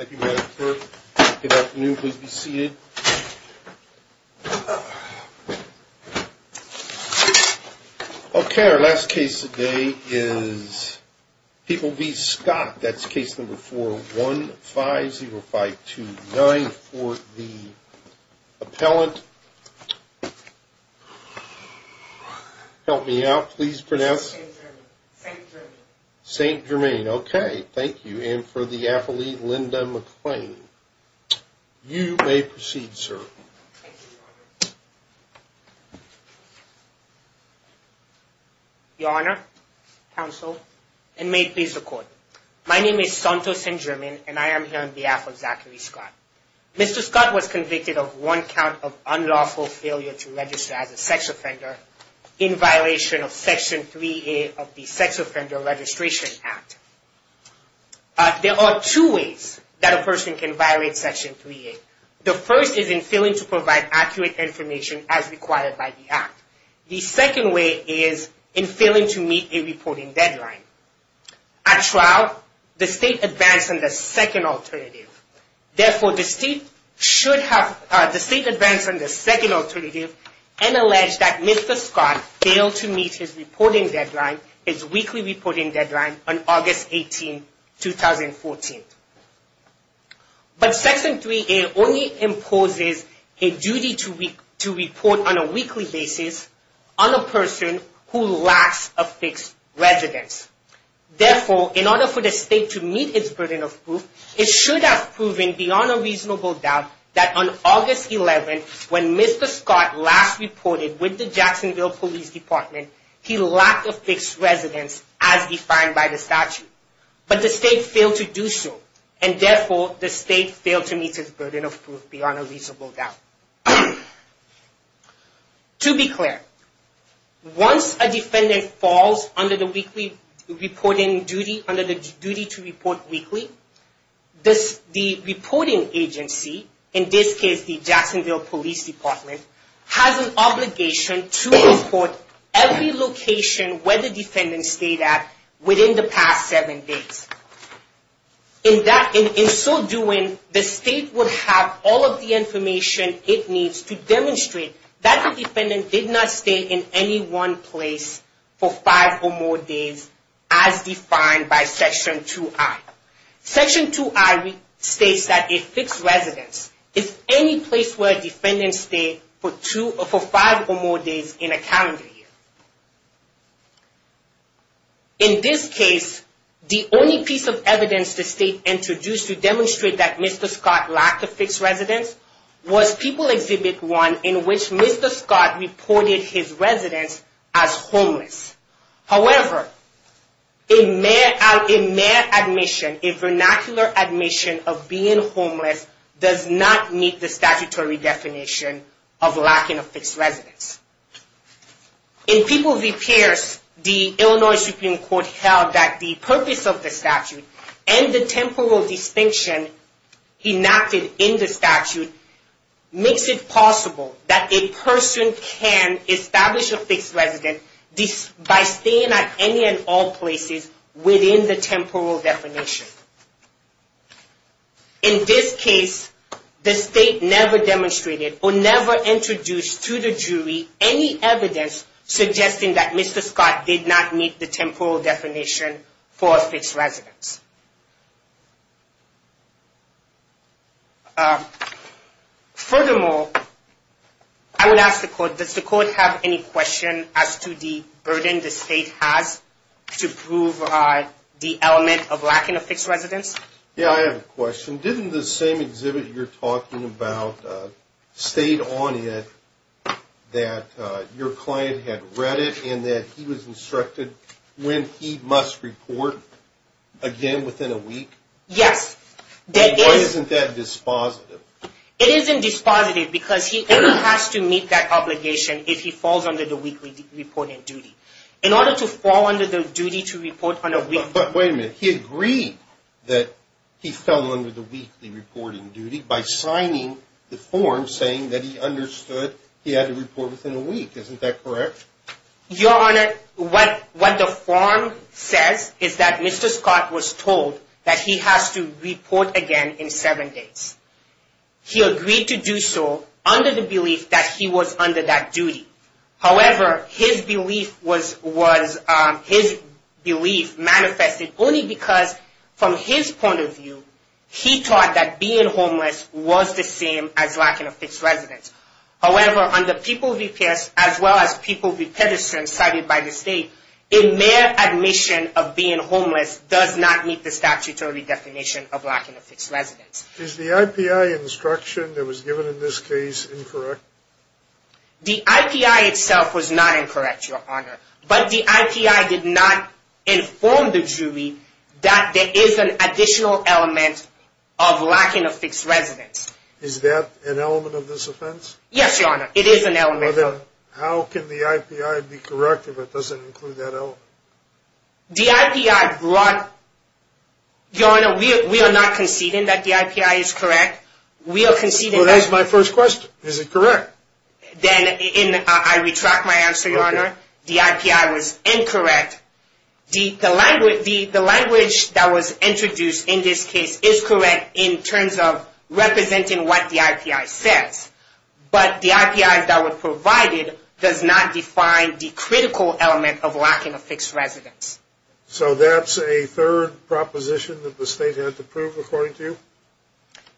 Okay, our last case today is People v. Scott. That's case number 4150529 for the appellant. Help me out. Please pronounce St. Germain. Okay, thank you. And for the appellate, Linda McClain. You may proceed, sir. Your Honor, counsel, and may it please the court. My name is Santos St. Germain, and I am here on behalf of Zachary Scott. Mr. Scott was convicted of one count of unlawful failure to register as a sex offender in violation of Section 3A of the Sex Offender Registration Act. There are two ways that a person can violate Section 3A. The first is in failing to provide accurate information as required by the Act. The second way is in failing to meet a reporting deadline. At trial, the State advanced on the second alternative. And alleged that Mr. Scott failed to meet his weekly reporting deadline on August 18, 2014. But Section 3A only imposes a duty to report on a weekly basis on a person who lacks a fixed residence. Therefore, in order for the State to meet its burden of proof, it should have proven beyond a reasonable doubt that on August 11, when Mr. Scott last reported with the Jacksonville Police Department, he lacked a fixed residence as defined by the statute. But the State failed to do so. And therefore, the State failed to meet its burden of proof beyond a reasonable doubt. To be clear, once a defendant falls under the duty to report weekly, the reporting agency, in this case the Jacksonville Police Department, has an obligation to report every location where the defendant stayed at within the past seven days. In so doing, the State would have all of the information it needs to demonstrate that the defendant did not stay in any one place for five or more days as defined by Section 2I. Section 2I states that a fixed residence is any place where a defendant stayed for five or more days in a calendar year. In this case, the only piece of evidence the State introduced to demonstrate that Mr. Scott lacked a fixed residence was People Exhibit 1, in which Mr. Scott reported his residence as homeless. However, a mere admission, a vernacular admission of being homeless, does not meet the statutory definition of lacking a fixed residence. In People v. Pierce, the Illinois Supreme Court held that the purpose of the statute and the temporal distinction enacted in the statute makes it possible that a person can establish a fixed residence by staying at any and all places within the temporal definition. In this case, the State never demonstrated or never introduced to the jury any evidence suggesting that Mr. Scott did not meet the temporal definition for a fixed residence. Furthermore, I would ask the Court, does the Court have any question as to the burden the State has to prove the element of lacking a fixed residence? Yeah, I have a question. Didn't the same exhibit you're talking about state on it that your client had read it and that he was instructed when he must report again within a week? Yes. Why isn't that dispositive? It isn't dispositive because he only has to meet that obligation if he falls under the weekly reporting duty. In order to fall under the duty to report on a weekly... But wait a minute, he agreed that he fell under the weekly reporting duty by signing the form saying that he understood he had to report within a week. Isn't that correct? Your Honor, what the form says is that Mr. Scott was told that he has to report again in seven days. He agreed to do so under the belief that he was under that duty. However, his belief manifested only because from his point of view, he thought that being homeless was the same as lacking a fixed residence. However, under People v. Pierce as well as People v. Pedersen cited by the State, a mere admission of being homeless does not meet the statutory definition of lacking a fixed residence. Is the IPI instruction that was given in this case incorrect? The IPI itself was not incorrect, Your Honor, but the IPI did not inform the jury that there is an additional element of lacking a fixed residence. Is that an element of this offense? Yes, Your Honor, it is an element. How can the IPI be correct if it doesn't include that element? The IPI brought... Your Honor, we are not conceding that the IPI is correct. We are conceding that... Well, that is my first question. Is it correct? Then I retract my answer, Your Honor. The IPI was incorrect. The language that was introduced in this case is correct in terms of representing what the IPI says. But the IPI that was provided does not define the critical element of lacking a fixed residence. So that's a third proposition that the State had to prove according to you?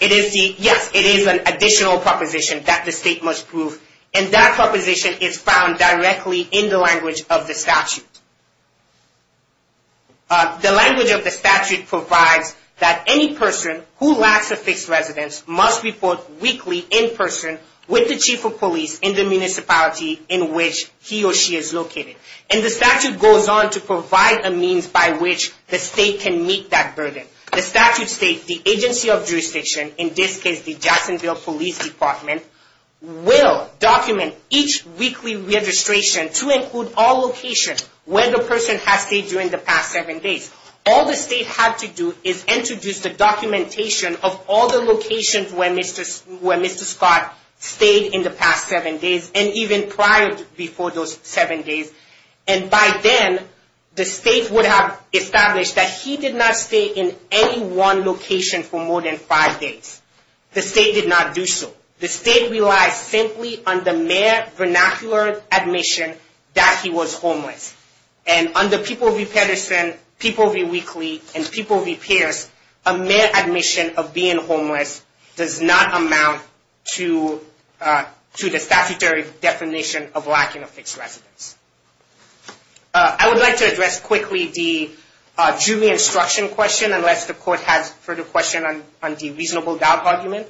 Yes, it is an additional proposition that the State must prove. And that proposition is found directly in the language of the statute. The language of the statute provides that any person who lacks a fixed residence must report weekly in person with the chief of police in the municipality in which he or she is located. And the statute goes on to provide a means by which the State can meet that burden. The statute states the agency of jurisdiction, in this case the Jacksonville Police Department, will document each weekly registration to include all locations where the person has stayed during the past seven days. All the State had to do is introduce the documentation of all the locations where Mr. Scott stayed in the past seven days and even prior to those seven days. And by then, the State would have established that he did not stay in any one location for more than five days. The State did not do so. The State relies simply on the mere vernacular admission that he was homeless. And under people v. Pedersen, people v. Weakley, and people v. Pierce, a mere admission of being homeless does not amount to the statutory definition of lacking a fixed residence. I would like to address quickly the jury instruction question, unless the court has further questions on the reasonable doubt argument.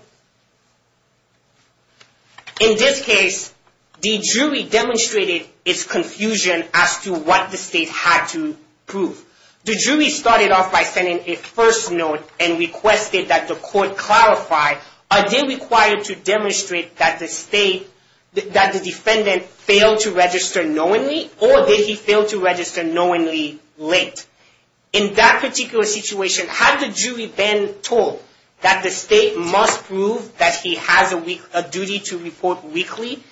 In this case, the jury demonstrated its confusion as to what the State had to prove. The jury started off by sending a first note and requested that the court clarify, are they required to demonstrate that the defendant failed to register knowingly, or did he fail to register knowingly late? In that particular situation, had the jury been told that the State must prove that he has a duty to report weakly,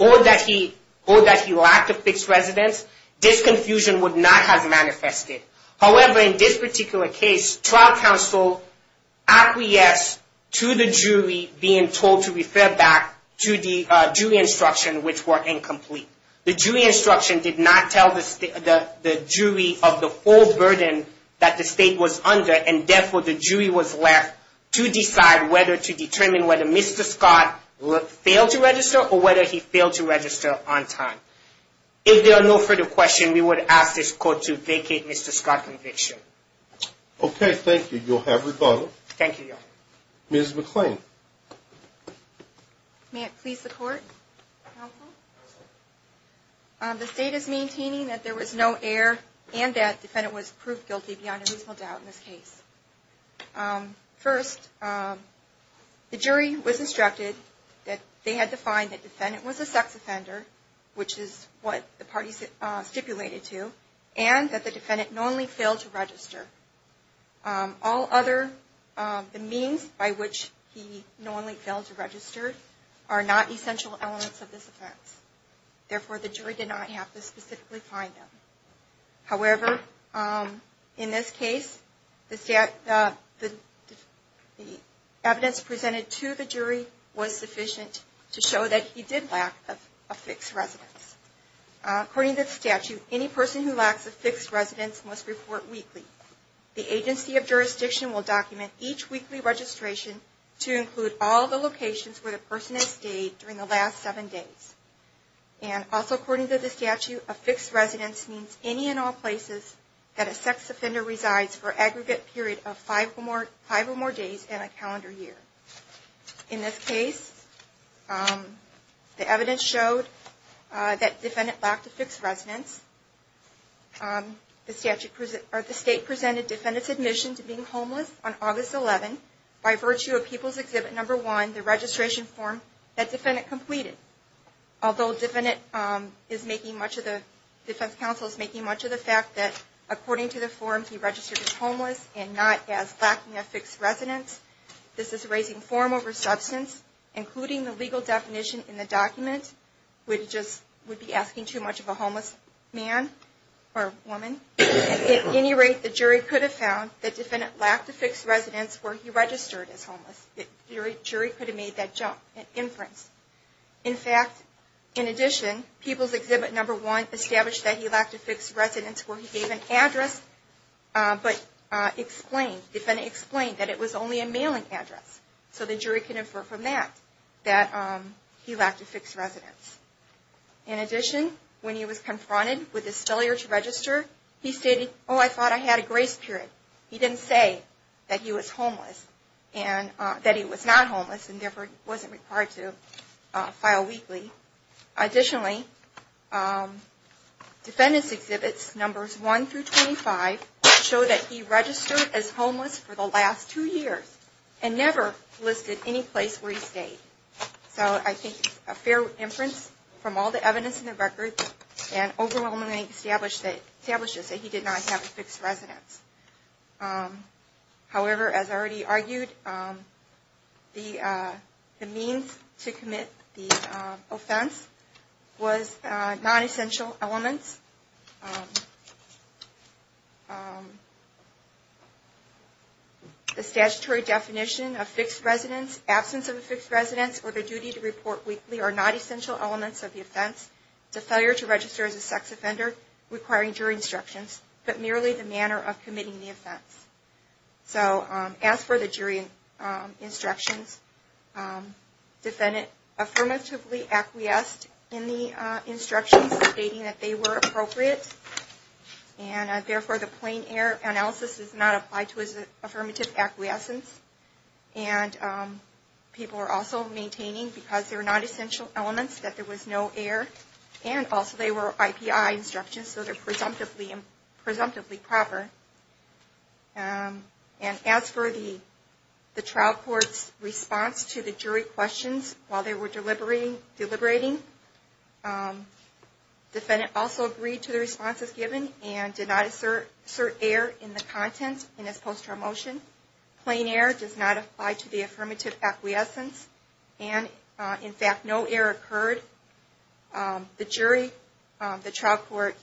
or that he lacked a fixed residence, this confusion would not have manifested. However, in this particular case, trial counsel acquiesced to the jury being told to refer back to the jury instruction, which were incomplete. The jury instruction did not tell the jury of the full burden that the State was under, and therefore the jury was left to decide whether to determine whether Mr. Scott failed to register, or whether he failed to register on time. If there are no further questions, we would ask this court to vacate Mr. Scott's conviction. Okay, thank you. You'll have rebuttal. Thank you, Your Honor. Ms. McClain. May it please the Court, counsel? The State is maintaining that there was no error, and that the defendant was proved guilty beyond a reasonable doubt in this case. First, the jury was instructed that they had to find that the defendant was a sex offender, which is what the parties stipulated to, and that the defendant knowingly failed to register. All other means by which he knowingly failed to register are not essential elements of this offense. Therefore, the jury did not have to specifically find him. However, in this case, the evidence presented to the jury was sufficient to show that he did lack a fixed residence. According to the statute, any person who lacks a fixed residence must report weekly. The agency of jurisdiction will document each weekly registration to include all the locations where the person has stayed during the last seven days. And also according to the statute, a fixed residence means any and all places that a sex offender resides for an aggregate period of five or more days in a calendar year. In this case, the evidence showed that the defendant lacked a fixed residence. The State presented the defendant's admission to being homeless on August 11, by virtue of People's Exhibit No. 1, the registration form that the defendant completed. Although the defense counsel is making much of the fact that according to the form, he registered as homeless and not as lacking a fixed residence, this is raising form over substance, including the legal definition in the document, which would be asking too much of a homeless man or woman. At any rate, the jury could have found that the defendant lacked a fixed residence where he registered as homeless. The jury could have made that inference. In fact, in addition, People's Exhibit No. 1 established that he lacked a fixed residence where he gave an address, but explained, the defendant explained that it was only a mailing address. So the jury could infer from that that he lacked a fixed residence. In addition, when he was confronted with his failure to register, he stated, oh, I thought I had a grace period. He didn't say that he was homeless and that he was not homeless and therefore wasn't required to file weakly. Additionally, Defendant's Exhibits No. 1 through 25 show that he registered as homeless for the last two years and never listed any place where he stayed. So I think it's a fair inference from all the evidence in the record and overwhelmingly establishes that he did not have a fixed residence. However, as already argued, the means to commit the offense was non-essential elements. The statutory definition of fixed residence, absence of a fixed residence, or the duty to report weakly are not essential elements of the offense. It's a failure to register as a sex offender requiring jury instructions, but merely the manner of committing the offense. So as for the jury instructions, the defendant affirmatively acquiesced in the instructions stating that they were appropriate. And therefore, the plain error analysis is not applied to his affirmative acquiescence. And people were also maintaining, because they were non-essential elements, that there was no error. And also, they were IPI instructions, so they're presumptively proper. And as for the trial court's response to the jury questions while they were deliberating, the defendant also agreed to the responses given and did not assert error in the contents in his post-trial motion. Plain error does not apply to the affirmative acquiescence. And, in fact, no error occurred. The jury, the trial court,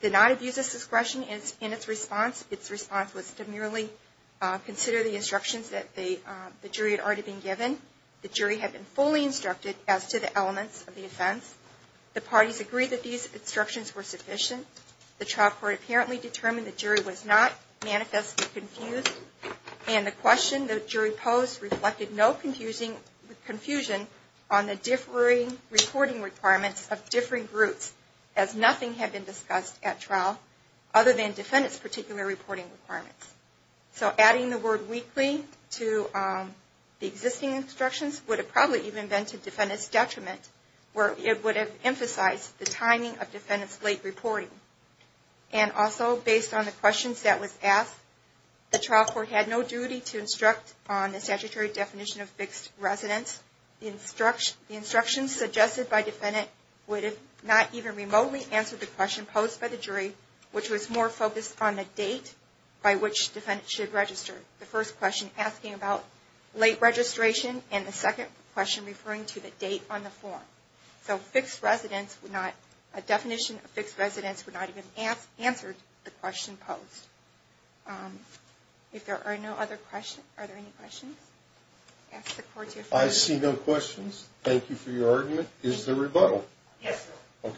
did not abuse his discretion in its response. Its response was to merely consider the instructions that the jury had already been given. The jury had been fully instructed as to the elements of the offense. The parties agreed that these instructions were sufficient. The trial court apparently determined the jury was not manifestly confused. And the question the jury posed reflected no confusion on the differing reporting requirements of differing groups, as nothing had been discussed at trial other than defendants' particular reporting requirements. So adding the word weekly to the existing instructions would have probably even been to defendant's detriment, where it would have emphasized the timing of defendant's late reporting. And also, based on the questions that was asked, the trial court had no duty to instruct on the statutory definition of fixed residence. The instructions suggested by defendant would have not even remotely answered the question posed by the jury, which was more focused on the date by which defendant should register. The first question asking about late registration and the second question referring to the date on the form. So a definition of fixed residence would not even have answered the question posed. If there are no other questions, are there any questions? I see no questions. Thank you for your argument. Is there rebuttal? Yes, sir.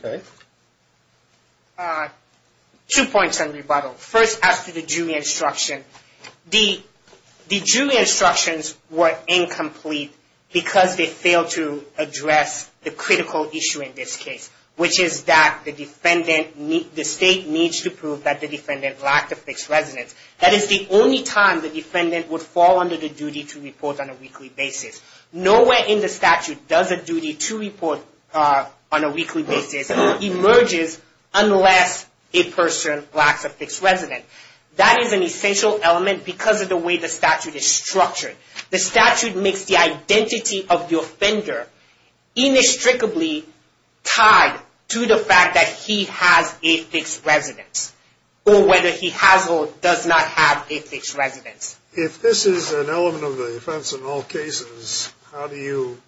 Okay. Two points on rebuttal. First, as to the jury instruction. The jury instructions were incomplete because they failed to address the critical issue in this case, which is that the state needs to prove that the defendant lacked a fixed residence. That is the only time the defendant would fall under the duty to report on a weekly basis. Nowhere in the statute does a duty to report on a weekly basis emerges unless a person lacks a fixed residence. That is an essential element because of the way the statute is structured. The statute makes the identity of the offender inextricably tied to the fact that he has a fixed residence or whether he has or does not have a fixed residence. If this is an element of the offense in all cases, how do you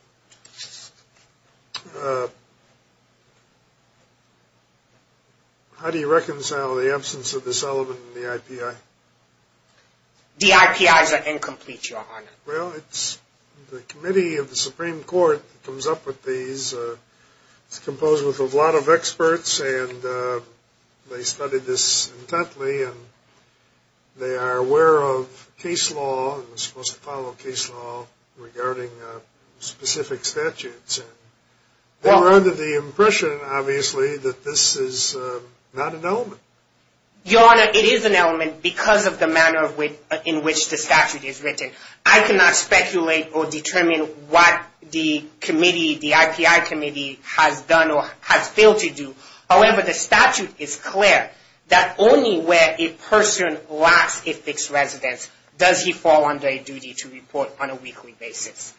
reconcile the absence of this element in the IPI? The IPIs are incomplete, Your Honor. Well, it's the committee of the Supreme Court that comes up with these. It's composed with a lot of experts, and they studied this intently, and they are aware of case law and are supposed to follow case law regarding specific statutes. They were under the impression, obviously, that this is not an element. Your Honor, it is an element because of the manner in which the statute is written. I cannot speculate or determine what the IPI committee has done or has failed to do. However, the statute is clear that only where a person lacks a fixed residence does he fall under a duty to report on a weekly basis.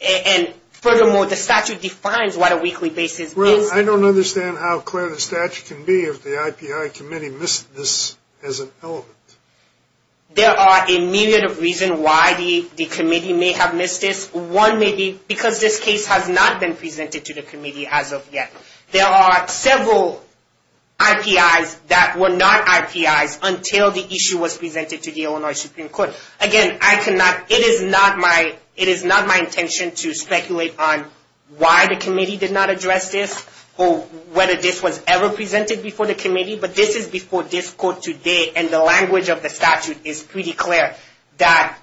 And furthermore, the statute defines what a weekly basis means. I don't understand how clear the statute can be if the IPI committee missed this as an element. There are a myriad of reasons why the committee may have missed this. One may be because this case has not been presented to the committee as of yet. There are several IPIs that were not IPIs until the issue was presented to the Illinois Supreme Court. Again, it is not my intention to speculate on why the committee did not address this or whether this was ever presented before the committee. But this is before this court today, and the language of the statute is pretty clear that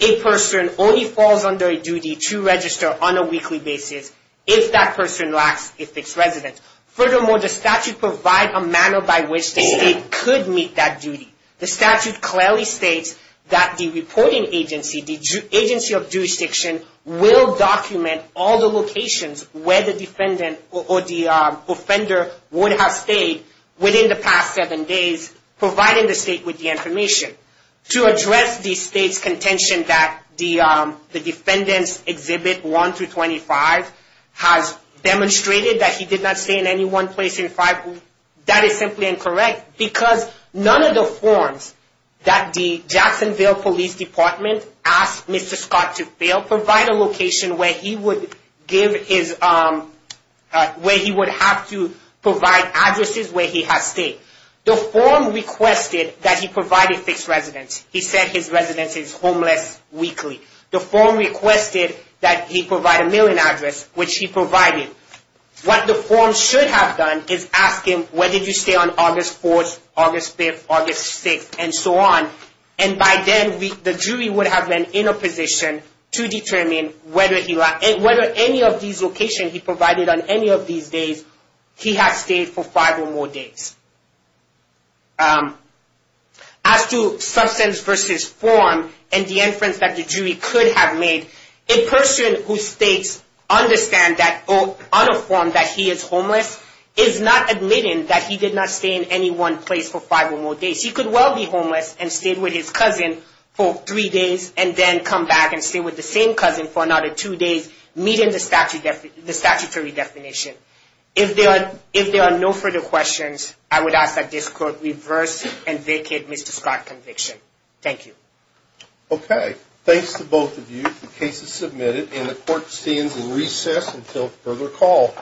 a person only falls under a duty to register on a weekly basis if that person lacks a fixed residence. Furthermore, the statute provides a manner by which the state could meet that duty. The statute clearly states that the reporting agency, the agency of jurisdiction, will document all the locations where the defendant or the offender would have stayed within the past seven days, providing the state with the information. To address the state's contention that the defendant's Exhibit 1-25 has demonstrated that he did not stay in any one place in five weeks, that is simply incorrect because none of the forms that the Jacksonville Police Department asked Mr. Scott to fill provide a location where he would have to provide addresses where he has stayed. The form requested that he provide a fixed residence. He said his residence is homeless weekly. The form requested that he provide a mailing address, which he provided. What the form should have done is ask him, where did you stay on August 4th, August 5th, August 6th, and so on. And by then, the jury would have been in a position to determine whether any of these locations he provided on any of these days, he has stayed for five or more days. As to substance versus form and the inference that the jury could have made, a person who states on a form that he is homeless, is not admitting that he did not stay in any one place for five or more days. He could well be homeless and stayed with his cousin for three days and then come back and stay with the same cousin for another two days, meeting the statutory definition. If there are no further questions, I would ask that this court reverse and vacate Mr. Scott's conviction. Thank you. Okay. Thanks to both of you. The case is submitted and the court stands in recess until further call.